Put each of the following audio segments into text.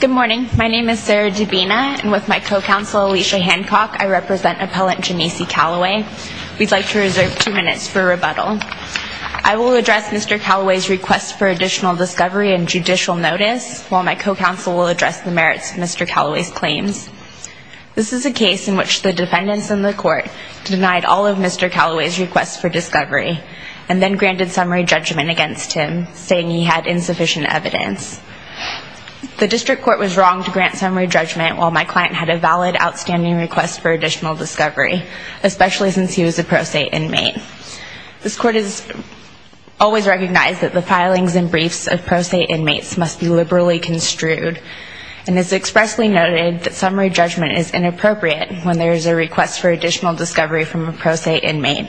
Good morning. My name is Sarah Dubina, and with my co-counsel Alicia Hancock, I represent appellant Janese Calloway. We'd like to reserve two minutes for rebuttal. I will address Mr. Calloway's request for additional discovery and judicial notice, while my co-counsel will address the merits of Mr. Calloway's claims. This is a case in which the defendants in the court denied all of Mr. Calloway's requests for discovery, and then granted summary judgment against him, saying he had insufficient evidence. The district court was wrong to grant summary judgment while my client had a valid outstanding request for additional discovery, especially since he was a pro se inmate. This court has always recognized that the filings and briefs of pro se inmates must be liberally construed, and has expressly noted that summary judgment is inappropriate when there is a request for additional discovery from a pro se inmate,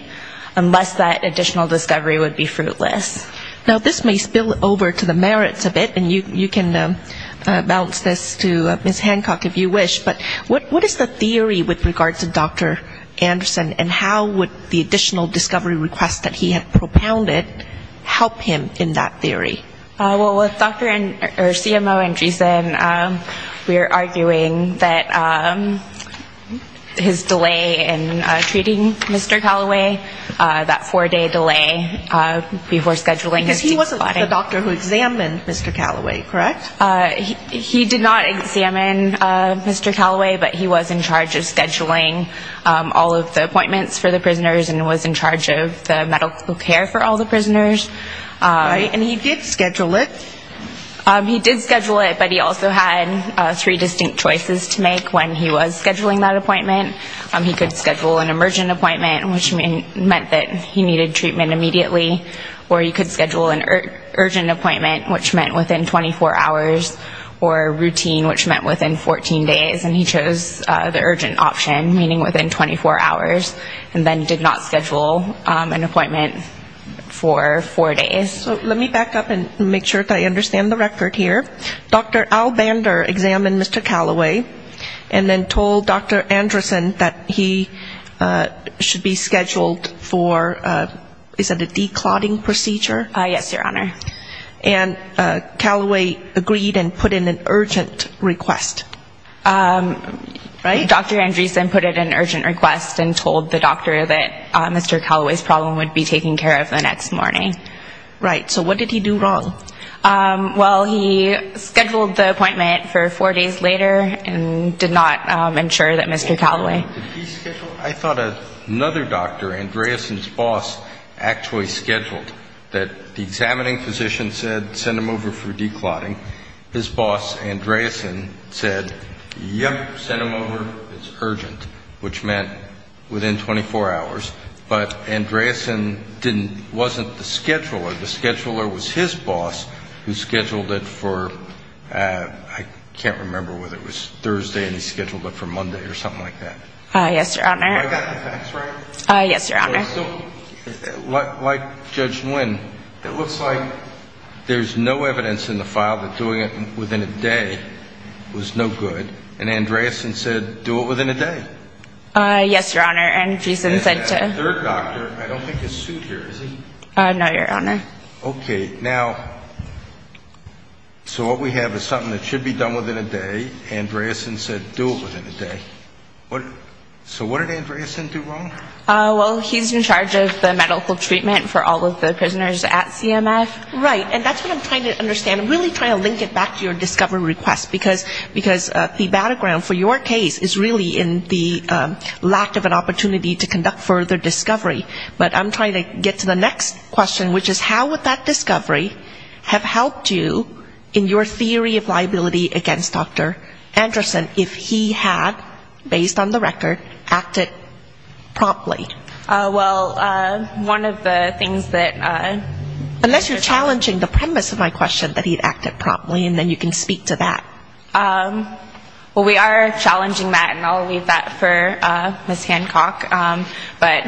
unless that additional discovery would be fruitless. Now, this may spill over to the merits of it, and you can bounce this to Ms. Hancock if you wish, but what is the theory with regards to Dr. Anderson, and how would the additional discovery request that he had propounded help him in that theory? Well, with Dr. Anderson, or CMO Anderson, we are arguing that his delay in treating Mr. Calloway, that four-day delay before scheduling his... Because he wasn't the doctor who examined Mr. Calloway, correct? He did not examine Mr. Calloway, but he was in charge of scheduling all of the appointments for the prisoners, and was in charge of the medical care for all the prisoners. And he did schedule it? He did schedule it, but he also had three distinct choices to make when he was scheduling that appointment. He could schedule an emergent appointment, which meant that he needed treatment immediately, or he could schedule an urgent appointment, which meant within 24 hours, or routine, which meant within 14 days, and he chose the urgent option, meaning within 24 hours, and then did not schedule an appointment for four days. So let me back up and make sure that I understand the record here. Dr. Albander examined Mr. Calloway, and then told Dr. Anderson that he should be scheduled for, is it a de-clotting procedure? Yes, Your Honor. And Calloway agreed and put in an urgent request? Right? Dr. Anderson put in an urgent request and told the doctor that Mr. Calloway's problem would be taken care of the next morning. Right. So what did he do wrong? Well, he scheduled the appointment for four days later and did not ensure that Mr. Calloway Did he schedule? I thought another doctor, Andreasen's boss, actually scheduled, that the examining physician said send him over for de-clotting. His boss, Andreasen, said, yep, send him over, it's urgent, which meant within 24 hours, but Andreasen didn't, wasn't the scheduler. The scheduler was his boss who scheduled it for, I can't remember whether it was Thursday and he scheduled it for Monday or something like that. Yes, Your Honor. Do I got the facts right? Yes, Your Honor. So, like Judge Nguyen, it looks like there's no evidence in the file that doing it within a day was no good, and Andreasen said do it within a day? Yes, Your Honor, and she's then sent to... And that third doctor, I don't think is sued here, is he? No, Your Honor. Okay, now, so what we have is something that should be done within a day, Andreasen said do it within a day. So what did Andreasen do wrong? Well, he's in charge of the medical treatment for all of the prisoners at CMF. Right, and that's what I'm trying to understand. I'm really trying to link it back to your discovery request, because the battleground for your case is really in the lack of an opportunity to conduct further discovery, but I'm trying to get to the next question, which is how would that discovery have helped you in your theory of liability against Dr. Andreasen if he had, based on the record, acted promptly? Well, one of the things that... Unless you're challenging the premise of my question, that he acted promptly, and then you can speak to that. Well, we are challenging that, and I'll leave that for Ms. Hancock. But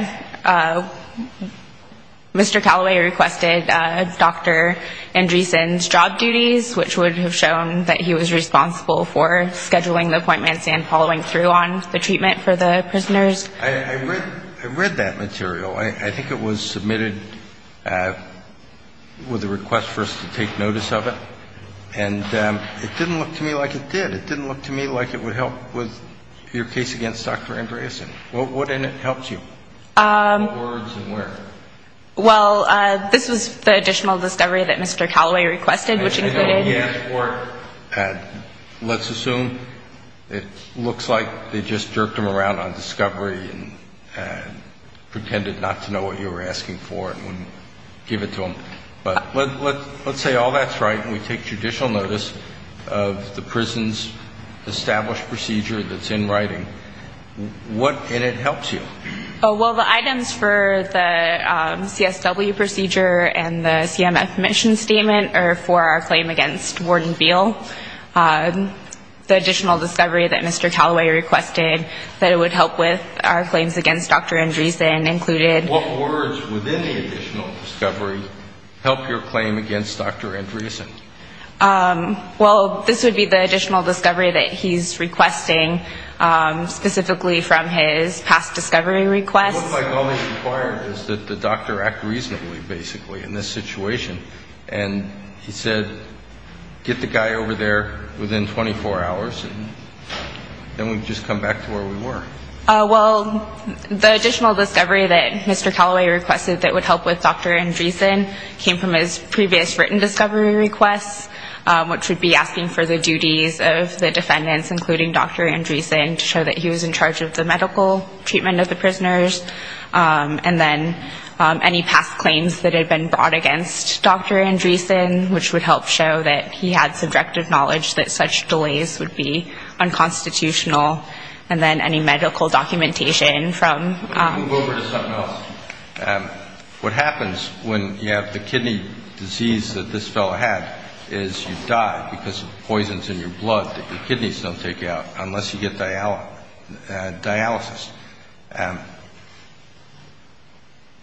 Mr. Callaway requested Dr. Andreasen's job duties, which would have shown that he was responsible for scheduling the appointments and following through on the treatment for the prisoners. I read that material. I think it was submitted with a request for us to take notice of it, and it didn't look to me like it did. It didn't look to me like it would help with your case against Dr. Andreasen. What in it helps you? What words and where? Well, this was the additional discovery that Mr. Callaway requested, which included... I know he asked for it. Let's assume it looks like they just jerked him around on discovery and pretended not to know what you were asking for and wouldn't give it to him. But let's say all that's right, and we take judicial notice of the prison's established procedure that's in writing. What in it helps you? Well, the items for the CSW procedure and the CMF mission statement are for our claim against Warden Veal. The additional discovery that Mr. Callaway requested that it would help with our claims against Dr. Andreasen included... What words within the additional discovery help your claim against Dr. Andreasen? Well, this would be the additional discovery that he's requesting, specifically from his past discovery requests. It looks like all that's required is that the doctor act reasonably, basically, in this situation. And he said, get the guy over there within 24 hours, and then we just come back to where we were. Well, the additional discovery that Mr. Callaway requested that would help with Dr. Andreasen came from his previous written discovery requests, which would be asking for the duties of the defendants, including Dr. Andreasen, to show that he was in charge of the medical treatment of the prisoners. And then any past claims that had been brought against Dr. Andreasen, which would help show that he had subjective knowledge that such delays would be unconstitutional. And then any medical documentation from... Let me move over to something else. What happens when you have the kidney disease that this fellow had is you die because of poisons in your blood that your kidneys don't take out unless you get dialysis.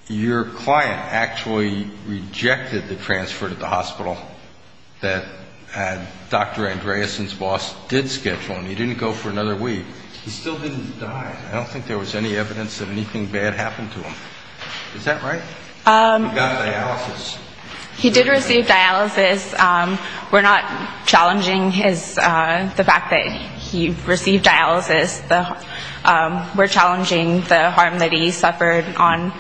Your client actually rejected the transfer to the hospital that Dr. Andreasen's boss did schedule. And he didn't go for another week. He still didn't die. I don't think there was any evidence that anything bad happened to him. Is that right? He got dialysis. He did receive dialysis. We're not challenging the fact that he received dialysis. We're challenging the harm that he suffered on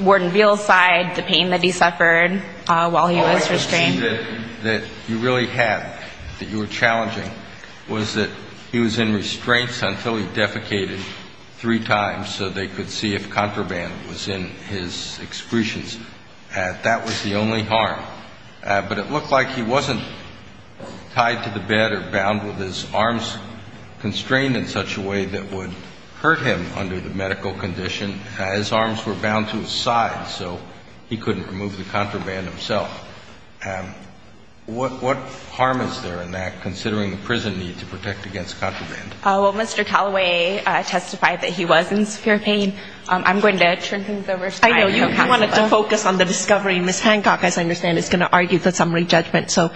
Warden Veal's side, the pain that he suffered while he was restrained. The thing that you really had that you were challenging was that he was in restraints until he defecated three times so they could see if contraband was in his excretions. That was the only harm. But it looked like he wasn't tied to the bed or bound with his arms constrained in such a way that would hurt him under the medical condition. His arms were bound to his side so he couldn't remove the contraband himself. What harm is there in that, considering the prison need to protect against contraband? Well, Mr. Callaway testified that he was in severe pain. I'm going to turn things over to Dr. Casale. I know. You wanted to focus on the discovery. Ms. Hancock, as I understand, is going to argue the summary judgment. So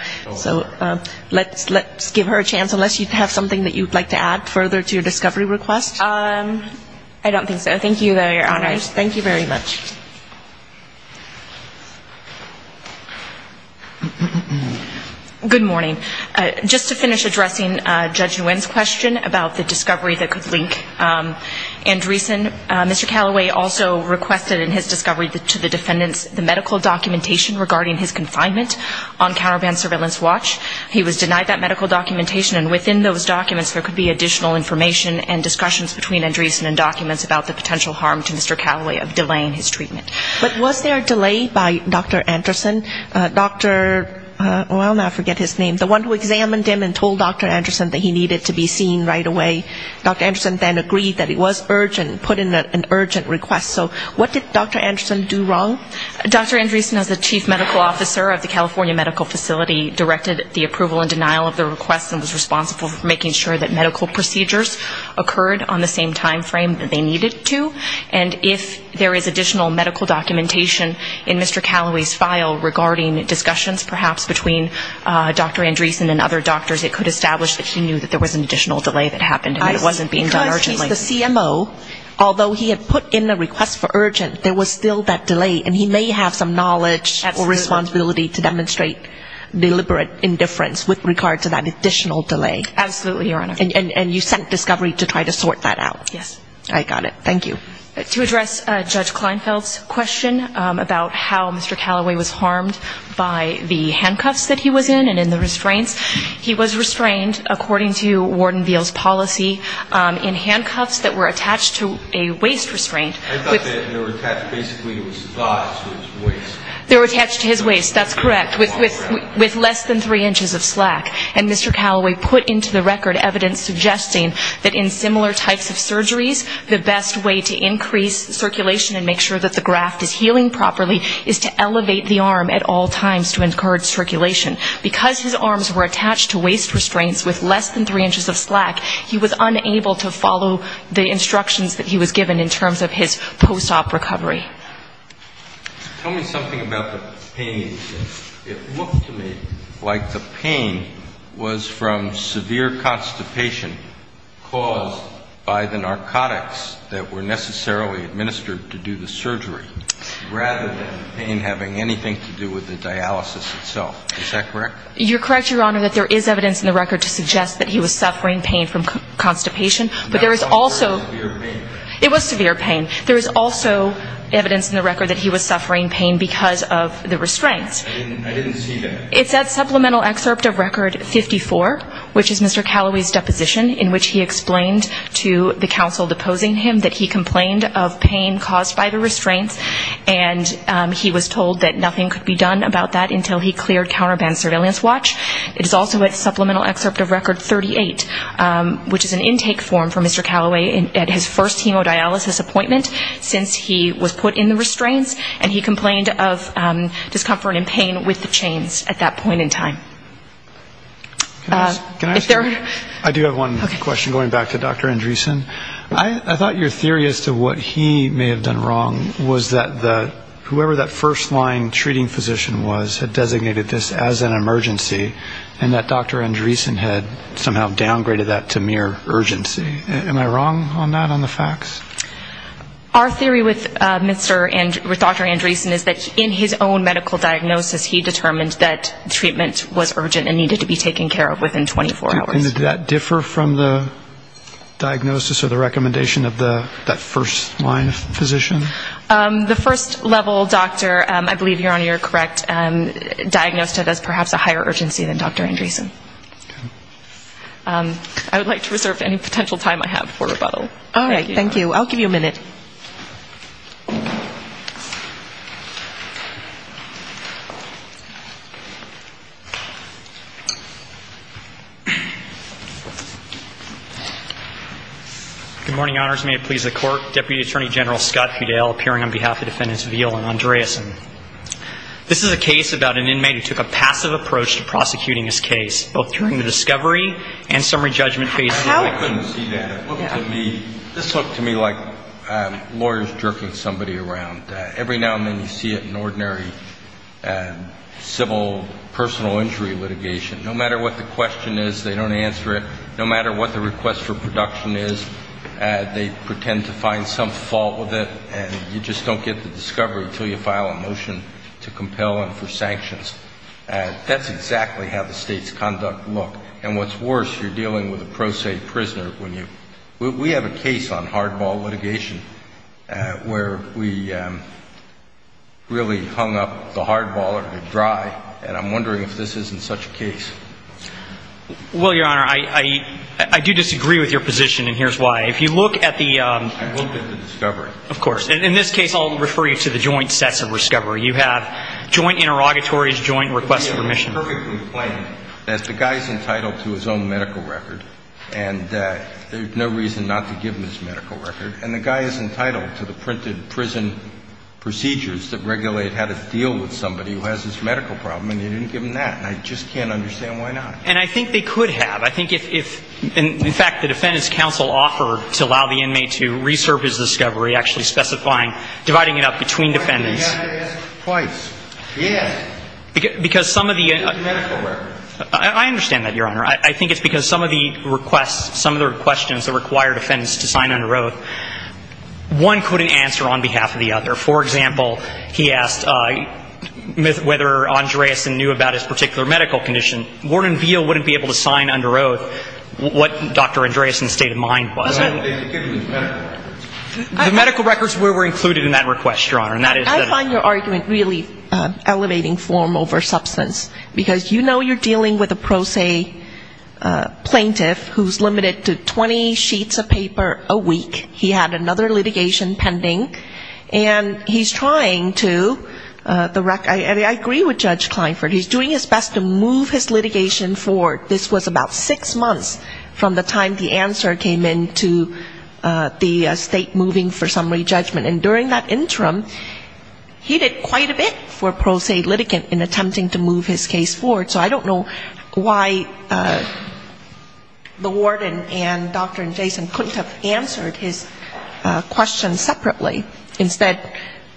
let's give her a chance, unless you have something that you'd like to add further to your discovery request. I don't think so. Thank you, Your Honors. Thank you very much. Good morning. Just to finish addressing Judge Nguyen's question about the discovery that could link Andreessen, Mr. Callaway also requested in his discovery to the defendants the medical documentation regarding his confinement on counterband surveillance watch. He was denied that medical documentation. And within those documents there could be additional information and discussions between Andreessen and documents about the potential harm to Mr. Callaway of delaying his treatment. But was there a delay by Dr. Andreessen? Dr. well, now I forget his name. The one who examined him and told Dr. Andreessen that he needed to be seen right away, Dr. Andreessen then agreed that it was urgent, put in an urgent request. So what did Dr. Andreessen do wrong? Dr. Andreessen, as the chief medical officer of the California Medical Facility, directed the approval and denial of the request and was responsible for making sure that medical procedures occurred on the same time frame that they needed to. And if there is additional medical documentation in Mr. Callaway's file regarding discussions perhaps between Dr. Andreessen and other doctors, it could establish that he knew that there was an additional delay that happened and it wasn't being done urgently. Because he's the CMO, although he had put in a request for urgent, there was still that delay. And he may have some knowledge or responsibility to demonstrate deliberate indifference with regard to that additional delay. Absolutely, Your Honor. And you sent discovery to try to sort that out. Yes. I got it. Thank you. To address Judge Kleinfeld's question about how Mr. Callaway was harmed by the handcuffs that he was in and in the restraints, he was restrained, according to Warden Veal's policy, in handcuffs that were attached to a waist restraint. I thought they were attached basically to his thighs, to his waist. They were attached to his waist, that's correct, with less than three inches of slack. And Mr. Callaway put into the record evidence suggesting that in similar types of surgeries, the best way to increase circulation and make sure that the graft is healing properly is to elevate the arm at all times to encourage circulation. Because his arms were attached to waist restraints with less than three inches of slack, he was unable to follow the instructions that he was given in terms of his post-op recovery. Tell me something about the pain. It looked to me like the pain was from severe constipation caused by the narcotics that were necessarily administered to do the surgery, rather than the pain having anything to do with the dialysis itself. Is that correct? You're correct, Your Honor, that there is evidence in the record to suggest that he was suffering pain from constipation. But there is also – It was severe pain. There is also evidence in the record that he was suffering pain because of the restraints. I didn't see that. It's at supplemental excerpt of record 54, which is Mr. Callaway's deposition, in which he explained to the counsel deposing him that he complained of pain caused by the restraints, and he was told that nothing could be done about that until he cleared counterband surveillance watch. It is also at supplemental excerpt of record 38, which is an intake form for Mr. Callaway at his first chemodialysis appointment since he was put in the restraints, and he complained of discomfort and pain with the chains at that point in time. Can I ask you – I do have one question going back to Dr. Andresen. I thought your theory as to what he may have done wrong was that whoever that first line treating physician was had designated this as an emergency, and that Dr. Andresen had somehow downgraded that to mere urgency. Am I wrong on that, on the facts? Our theory with Dr. Andresen is that in his own medical diagnosis, he determined that treatment was urgent and needed to be taken care of within 24 hours. And did that differ from the diagnosis or the recommendation of that first line physician? The first level doctor, I believe, Your Honor, you're correct, diagnosed it as perhaps a higher urgency than Dr. Andresen. I would like to reserve any potential time I have for rebuttal. All right, thank you. I'll give you a minute. Good morning, Honors. May it please the Court. Deputy Attorney General Scott Fidel appearing on behalf of Defendants Veal and Andresen. This is a case about an inmate who took a passive approach to prosecuting his case, both during the discovery and summary judgment phase two. I couldn't see that. It looked to me, this looked to me like lawyers jerking somebody around. Every now and then you see it in ordinary civil personal injury litigation. No matter what the question is, they don't answer it. No matter what the request for production is, they pretend to find some fault with it, and you just don't get the discovery until you file a motion to compel and for sanctions. That's exactly how the state's conduct looked. And what's worse, you're dealing with a pro se prisoner when you – we have a case on hardball litigation where we really hung up the hardballer to dry, and I'm wondering if this isn't such a case. Well, Your Honor, I do disagree with your position, and here's why. If you look at the – I looked at the discovery. Of course. In this case, I'll refer you to the joint sets of discovery. You have joint interrogatories, joint requests for permission. It's perfectly plain that the guy's entitled to his own medical record, and there's no reason not to give him his medical record. And the guy is entitled to the printed prison procedures that regulate how to deal with somebody who has this medical problem, and you didn't give him that. And I just can't understand why not. And I think they could have. I think if – in fact, the Defendant's Counsel offered to allow the inmate to reserve his discovery, actually specifying – dividing it up between defendants. I think you have to ask twice. Yes. Because some of the – The medical records. I understand that, Your Honor. I think it's because some of the requests, some of the questions that required defendants to sign under oath, one couldn't answer on behalf of the other. For example, he asked whether Andreasen knew about his particular medical condition. Ward and Veal wouldn't be able to sign under oath what Dr. Andreasen's state of mind was. No, they could have used medical records. The medical records were included in that request, Your Honor, and that is that – elevating form over substance. Because you know you're dealing with a pro se plaintiff who's limited to 20 sheets of paper a week. He had another litigation pending. And he's trying to – I agree with Judge Klineford. He's doing his best to move his litigation forward. This was about six months from the time the answer came in to the state moving for summary judgment. And during that interim, he did quite a bit for pro se litigant in attempting to move his case forward. So I don't know why the warden and Dr. Andreasen couldn't have answered his question separately. Instead,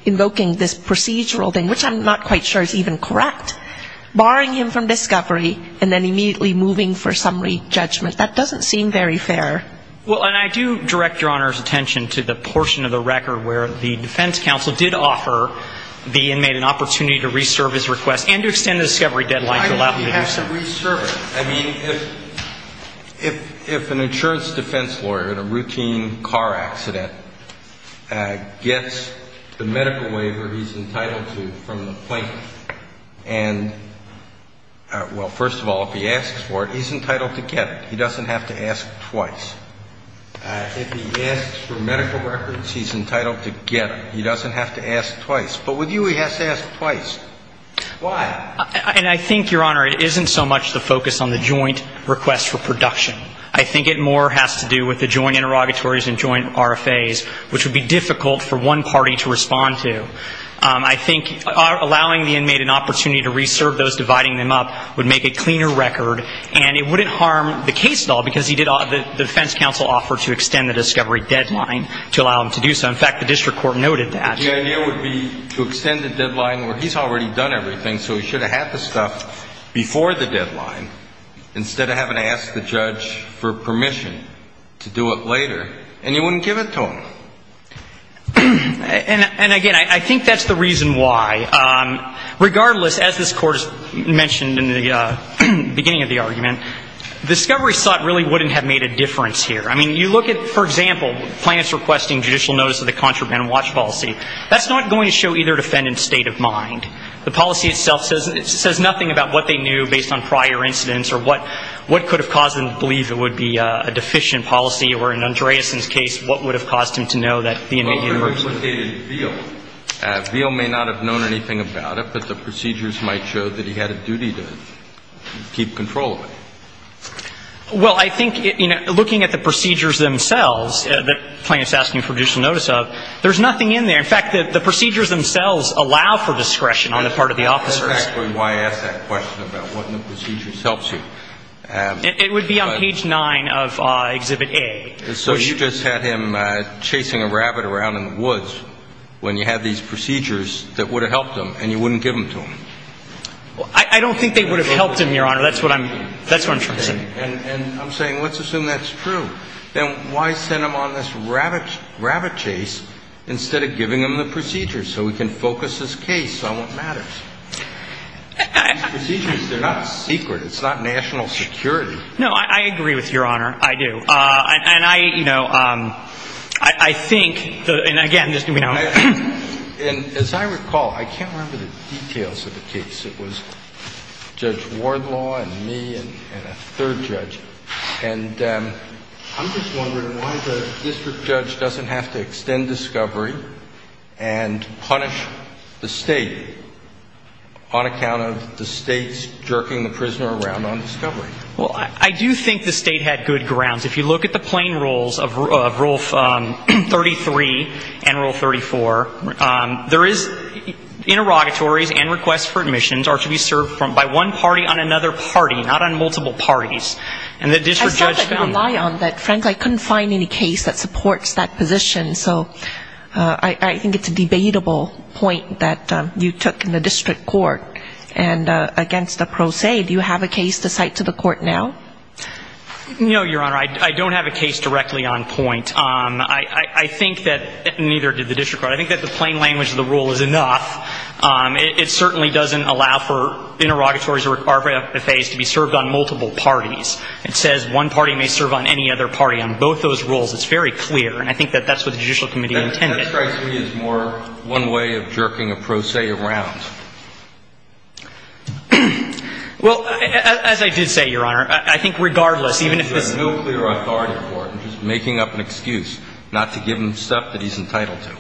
invoking this procedural thing, which I'm not quite sure is even correct, barring him from discovery and then immediately moving for summary judgment. That doesn't seem very fair. Well, and I do direct Your Honor's attention to the portion of the record where the defense counsel did offer the inmate an opportunity to reserve his request and to extend the discovery deadline to allow him to do so. Why would he have to reserve it? I mean, if an insurance defense lawyer in a routine car accident gets the medical waiver he's entitled to from the plaintiff and – well, first of all, if he asks for it, he's entitled to get it. He doesn't have to ask twice. If he asks for medical records, he's entitled to get them. He doesn't have to ask twice. But with you, he has to ask twice. Why? And I think, Your Honor, it isn't so much the focus on the joint request for production. I think it more has to do with the joint interrogatories and joint RFAs, which would be difficult for one party to respond to. I think allowing the inmate an opportunity to reserve those, dividing them up, would make a cleaner record, and it wouldn't harm the case at all because he did – the defense counsel offered to extend the discovery deadline to allow him to do so. In fact, the district court noted that. But the idea would be to extend the deadline where he's already done everything, so he should have had the stuff before the deadline instead of having to ask the judge for permission to do it later, and you wouldn't give it to him. And, again, I think that's the reason why. Regardless, as this Court has mentioned in the beginning of the argument, discovery sought really wouldn't have made a difference here. I mean, you look at, for example, plaintiffs requesting judicial notice of the contraband watch policy. That's not going to show either defendant's state of mind. The policy itself says nothing about what they knew based on prior incidents or what could have caused them to believe it would be a deficient policy or, in Andreasen's case, what would have caused him to know that the inmate had a watch. And that would have implicated Veal. Veal may not have known anything about it, but the procedures might show that he had a duty to keep control of it. Well, I think, you know, looking at the procedures themselves, the plaintiffs asking for judicial notice of, there's nothing in there. In fact, the procedures themselves allow for discretion on the part of the officers. That's actually why I asked that question about what in the procedures helps you. It would be on page 9 of Exhibit A. So you just had him chasing a rabbit around in the woods when you had these procedures that would have helped him and you wouldn't give them to him. I don't think they would have helped him, Your Honor. That's what I'm trying to say. And I'm saying let's assume that's true. Then why send him on this rabbit chase instead of giving him the procedures so he can focus his case on what matters? These procedures, they're not secret. It's not national security. No, I agree with Your Honor. I do. And I, you know, I think, and again, just let me know. And as I recall, I can't remember the details of the case. It was Judge Wardlaw and me and a third judge. And I'm just wondering why the district judge doesn't have to extend discovery and punish the State on account of the State's jerking the prisoner around on discovery. Well, I do think the State had good grounds. If you look at the plain rules of Rule 33 and Rule 34, there is interrogatories and requests for admissions are to be served by one party on another party, not on multiple parties. And the district judge found that. I saw that you rely on that. Frankly, I couldn't find any case that supports that position. So I think it's a debatable point that you took in the district court. And against the pro se, do you have a case to cite to the court now? No, Your Honor. I don't have a case directly on point. I think that neither did the district court. I think that the plain language of the rule is enough. It certainly doesn't allow for interrogatories to be served on multiple parties. It says one party may serve on any other party. On both those rules, it's very clear. And I think that that's what the Judicial Committee intended. That strikes me as more one way of jerking a pro se around. Well, as I did say, Your Honor, I think regardless, even if this is no clear authority for it, I'm just making up an excuse not to give him stuff that he's entitled to.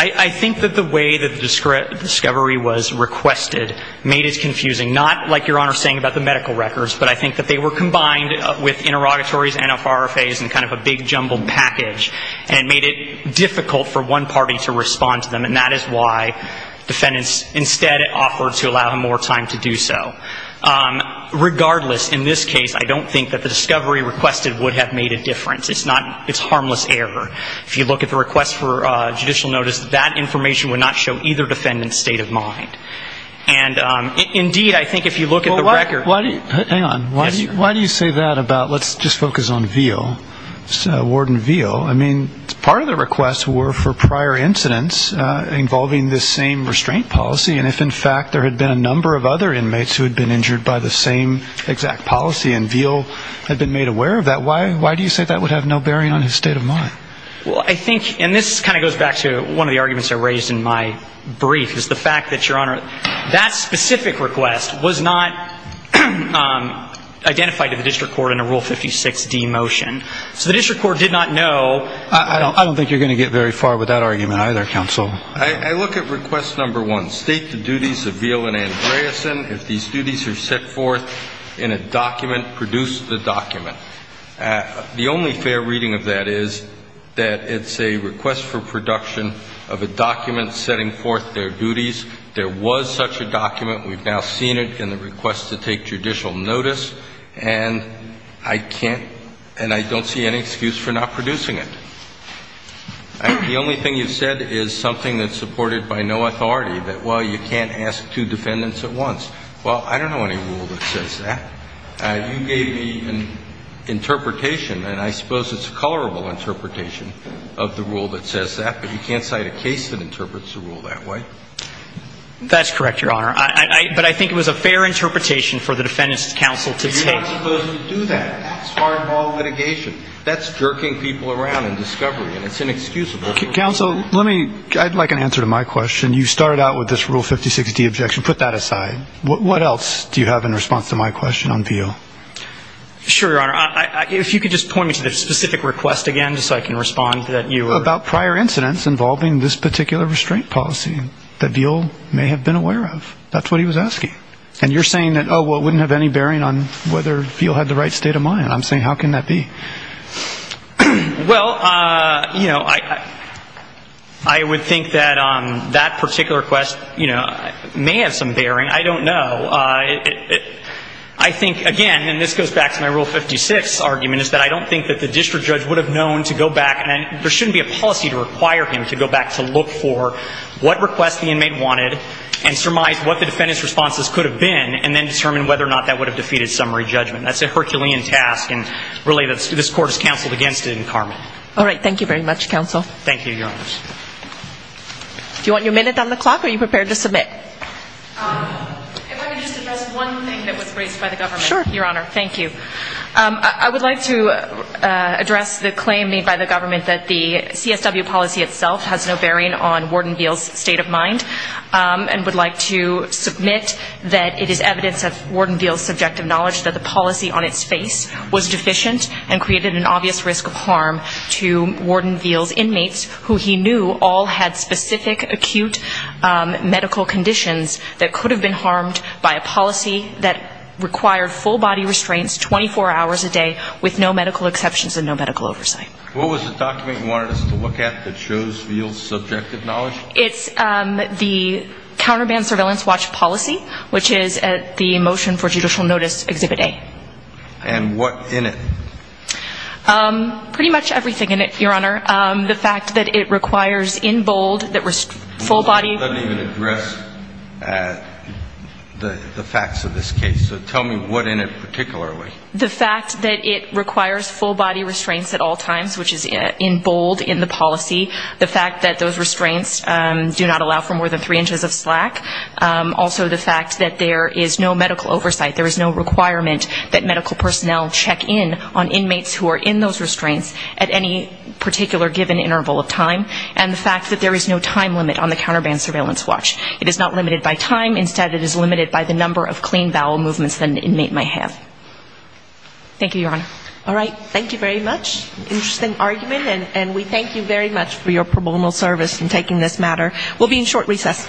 I think that the way that the discovery was requested made it confusing. Not like Your Honor saying about the medical records, but I think that they were combined with interrogatories, NFRFAs, and kind of a big jumbled package. And it made it difficult for one party to respond to them. And that is why defendants instead offered to allow him more time to do so. Regardless, in this case, I don't think that the discovery requested would have made a difference. It's harmless error. If you look at the request for judicial notice, that information would not show either defendant's state of mind. And, indeed, I think if you look at the record. Hang on. Why do you say that about let's just focus on Veal, Warden Veal? I mean, part of the request were for prior incidents involving this same restraint policy. And if, in fact, there had been a number of other inmates who had been injured by the same exact policy and Veal had been made aware of that, why do you say that would have no bearing on his state of mind? Well, I think, and this kind of goes back to one of the arguments I raised in my brief, is the fact that, Your Honor, that specific request was not identified to the district court in a Rule 56D motion. So the district court did not know. I don't think you're going to get very far with that argument either, counsel. I look at request number one. State the duties of Veal and Andreessen. If these duties are set forth in a document, produce the document. The only fair reading of that is that it's a request for production of a document setting forth their duties. There was such a document. We've now seen it in the request to take judicial notice. And I can't and I don't see any excuse for not producing it. The only thing you've said is something that's supported by no authority, that, well, you can't ask two defendants at once. Well, I don't know any rule that says that. You gave me an interpretation, and I suppose it's a colorable interpretation of the rule that says that, but you can't cite a case that interprets the rule that way. That's correct, Your Honor. But I think it was a fair interpretation for the defendants' counsel to take. But you're not supposed to do that. That's hardball litigation. That's jerking people around in discovery, and it's inexcusable. Counsel, let me ‑‑ I'd like an answer to my question. You started out with this Rule 56D objection. Put that aside. What else do you have in response to my question on Veal? Sure, Your Honor. If you could just point me to the specific request again just so I can respond that you were ‑‑ About prior incidents involving this particular restraint policy that Veal may have been aware of. That's what he was asking. And you're saying that, oh, well, it wouldn't have any bearing on whether Veal had the right state of mind. I'm saying how can that be? Well, you know, I would think that that particular request, you know, may have some bearing. I don't know. I think, again, and this goes back to my Rule 56 argument, is that I don't think that the district judge would have known to go back, and there shouldn't be a policy to require him to go back to look for what request the inmate wanted and surmise what the defendant's responses could have been and then determine whether or not that would have defeated summary judgment. That's a Herculean task, and really this court is counseled against it in Carmen. All right. Thank you very much, Counsel. Thank you, Your Honors. Do you want your minute on the clock, or are you prepared to submit? If I could just address one thing that was raised by the government. Sure. Your Honor, thank you. I would like to address the claim made by the government that the CSW policy itself has no bearing on Warden Veal's state of mind and would like to submit that it is evidence of Warden Veal's subjective knowledge that the policy on its face was deficient and created an obvious risk of harm to Warden Veal's inmates, who he knew all had specific acute medical conditions that could have been harmed by a policy that required full-body restraints 24 hours a day with no medical exceptions and no medical oversight. What was the document you wanted us to look at that shows Veal's subjective knowledge? It's the Counterband Surveillance Watch Policy, which is at the Motion for Judicial Notice Exhibit A. And what's in it? Pretty much everything in it, Your Honor. The fact that it requires in bold that full-body... Let me even address the facts of this case. So tell me what in it particularly. The fact that it requires full-body restraints at all times, which is in bold in the policy. The fact that those restraints do not allow for more than three inches of slack. Also the fact that there is no medical oversight. There is no requirement that medical personnel check in on inmates who are in those restraints at any particular given interval of time. And the fact that there is no time limit on the Counterband Surveillance Watch. It is not limited by time. Instead, it is limited by the number of clean bowel movements that an inmate might have. Thank you, Your Honor. All right. Thank you very much. Interesting argument. And we thank you very much for your pro bono service in taking this matter. We'll be in short recess.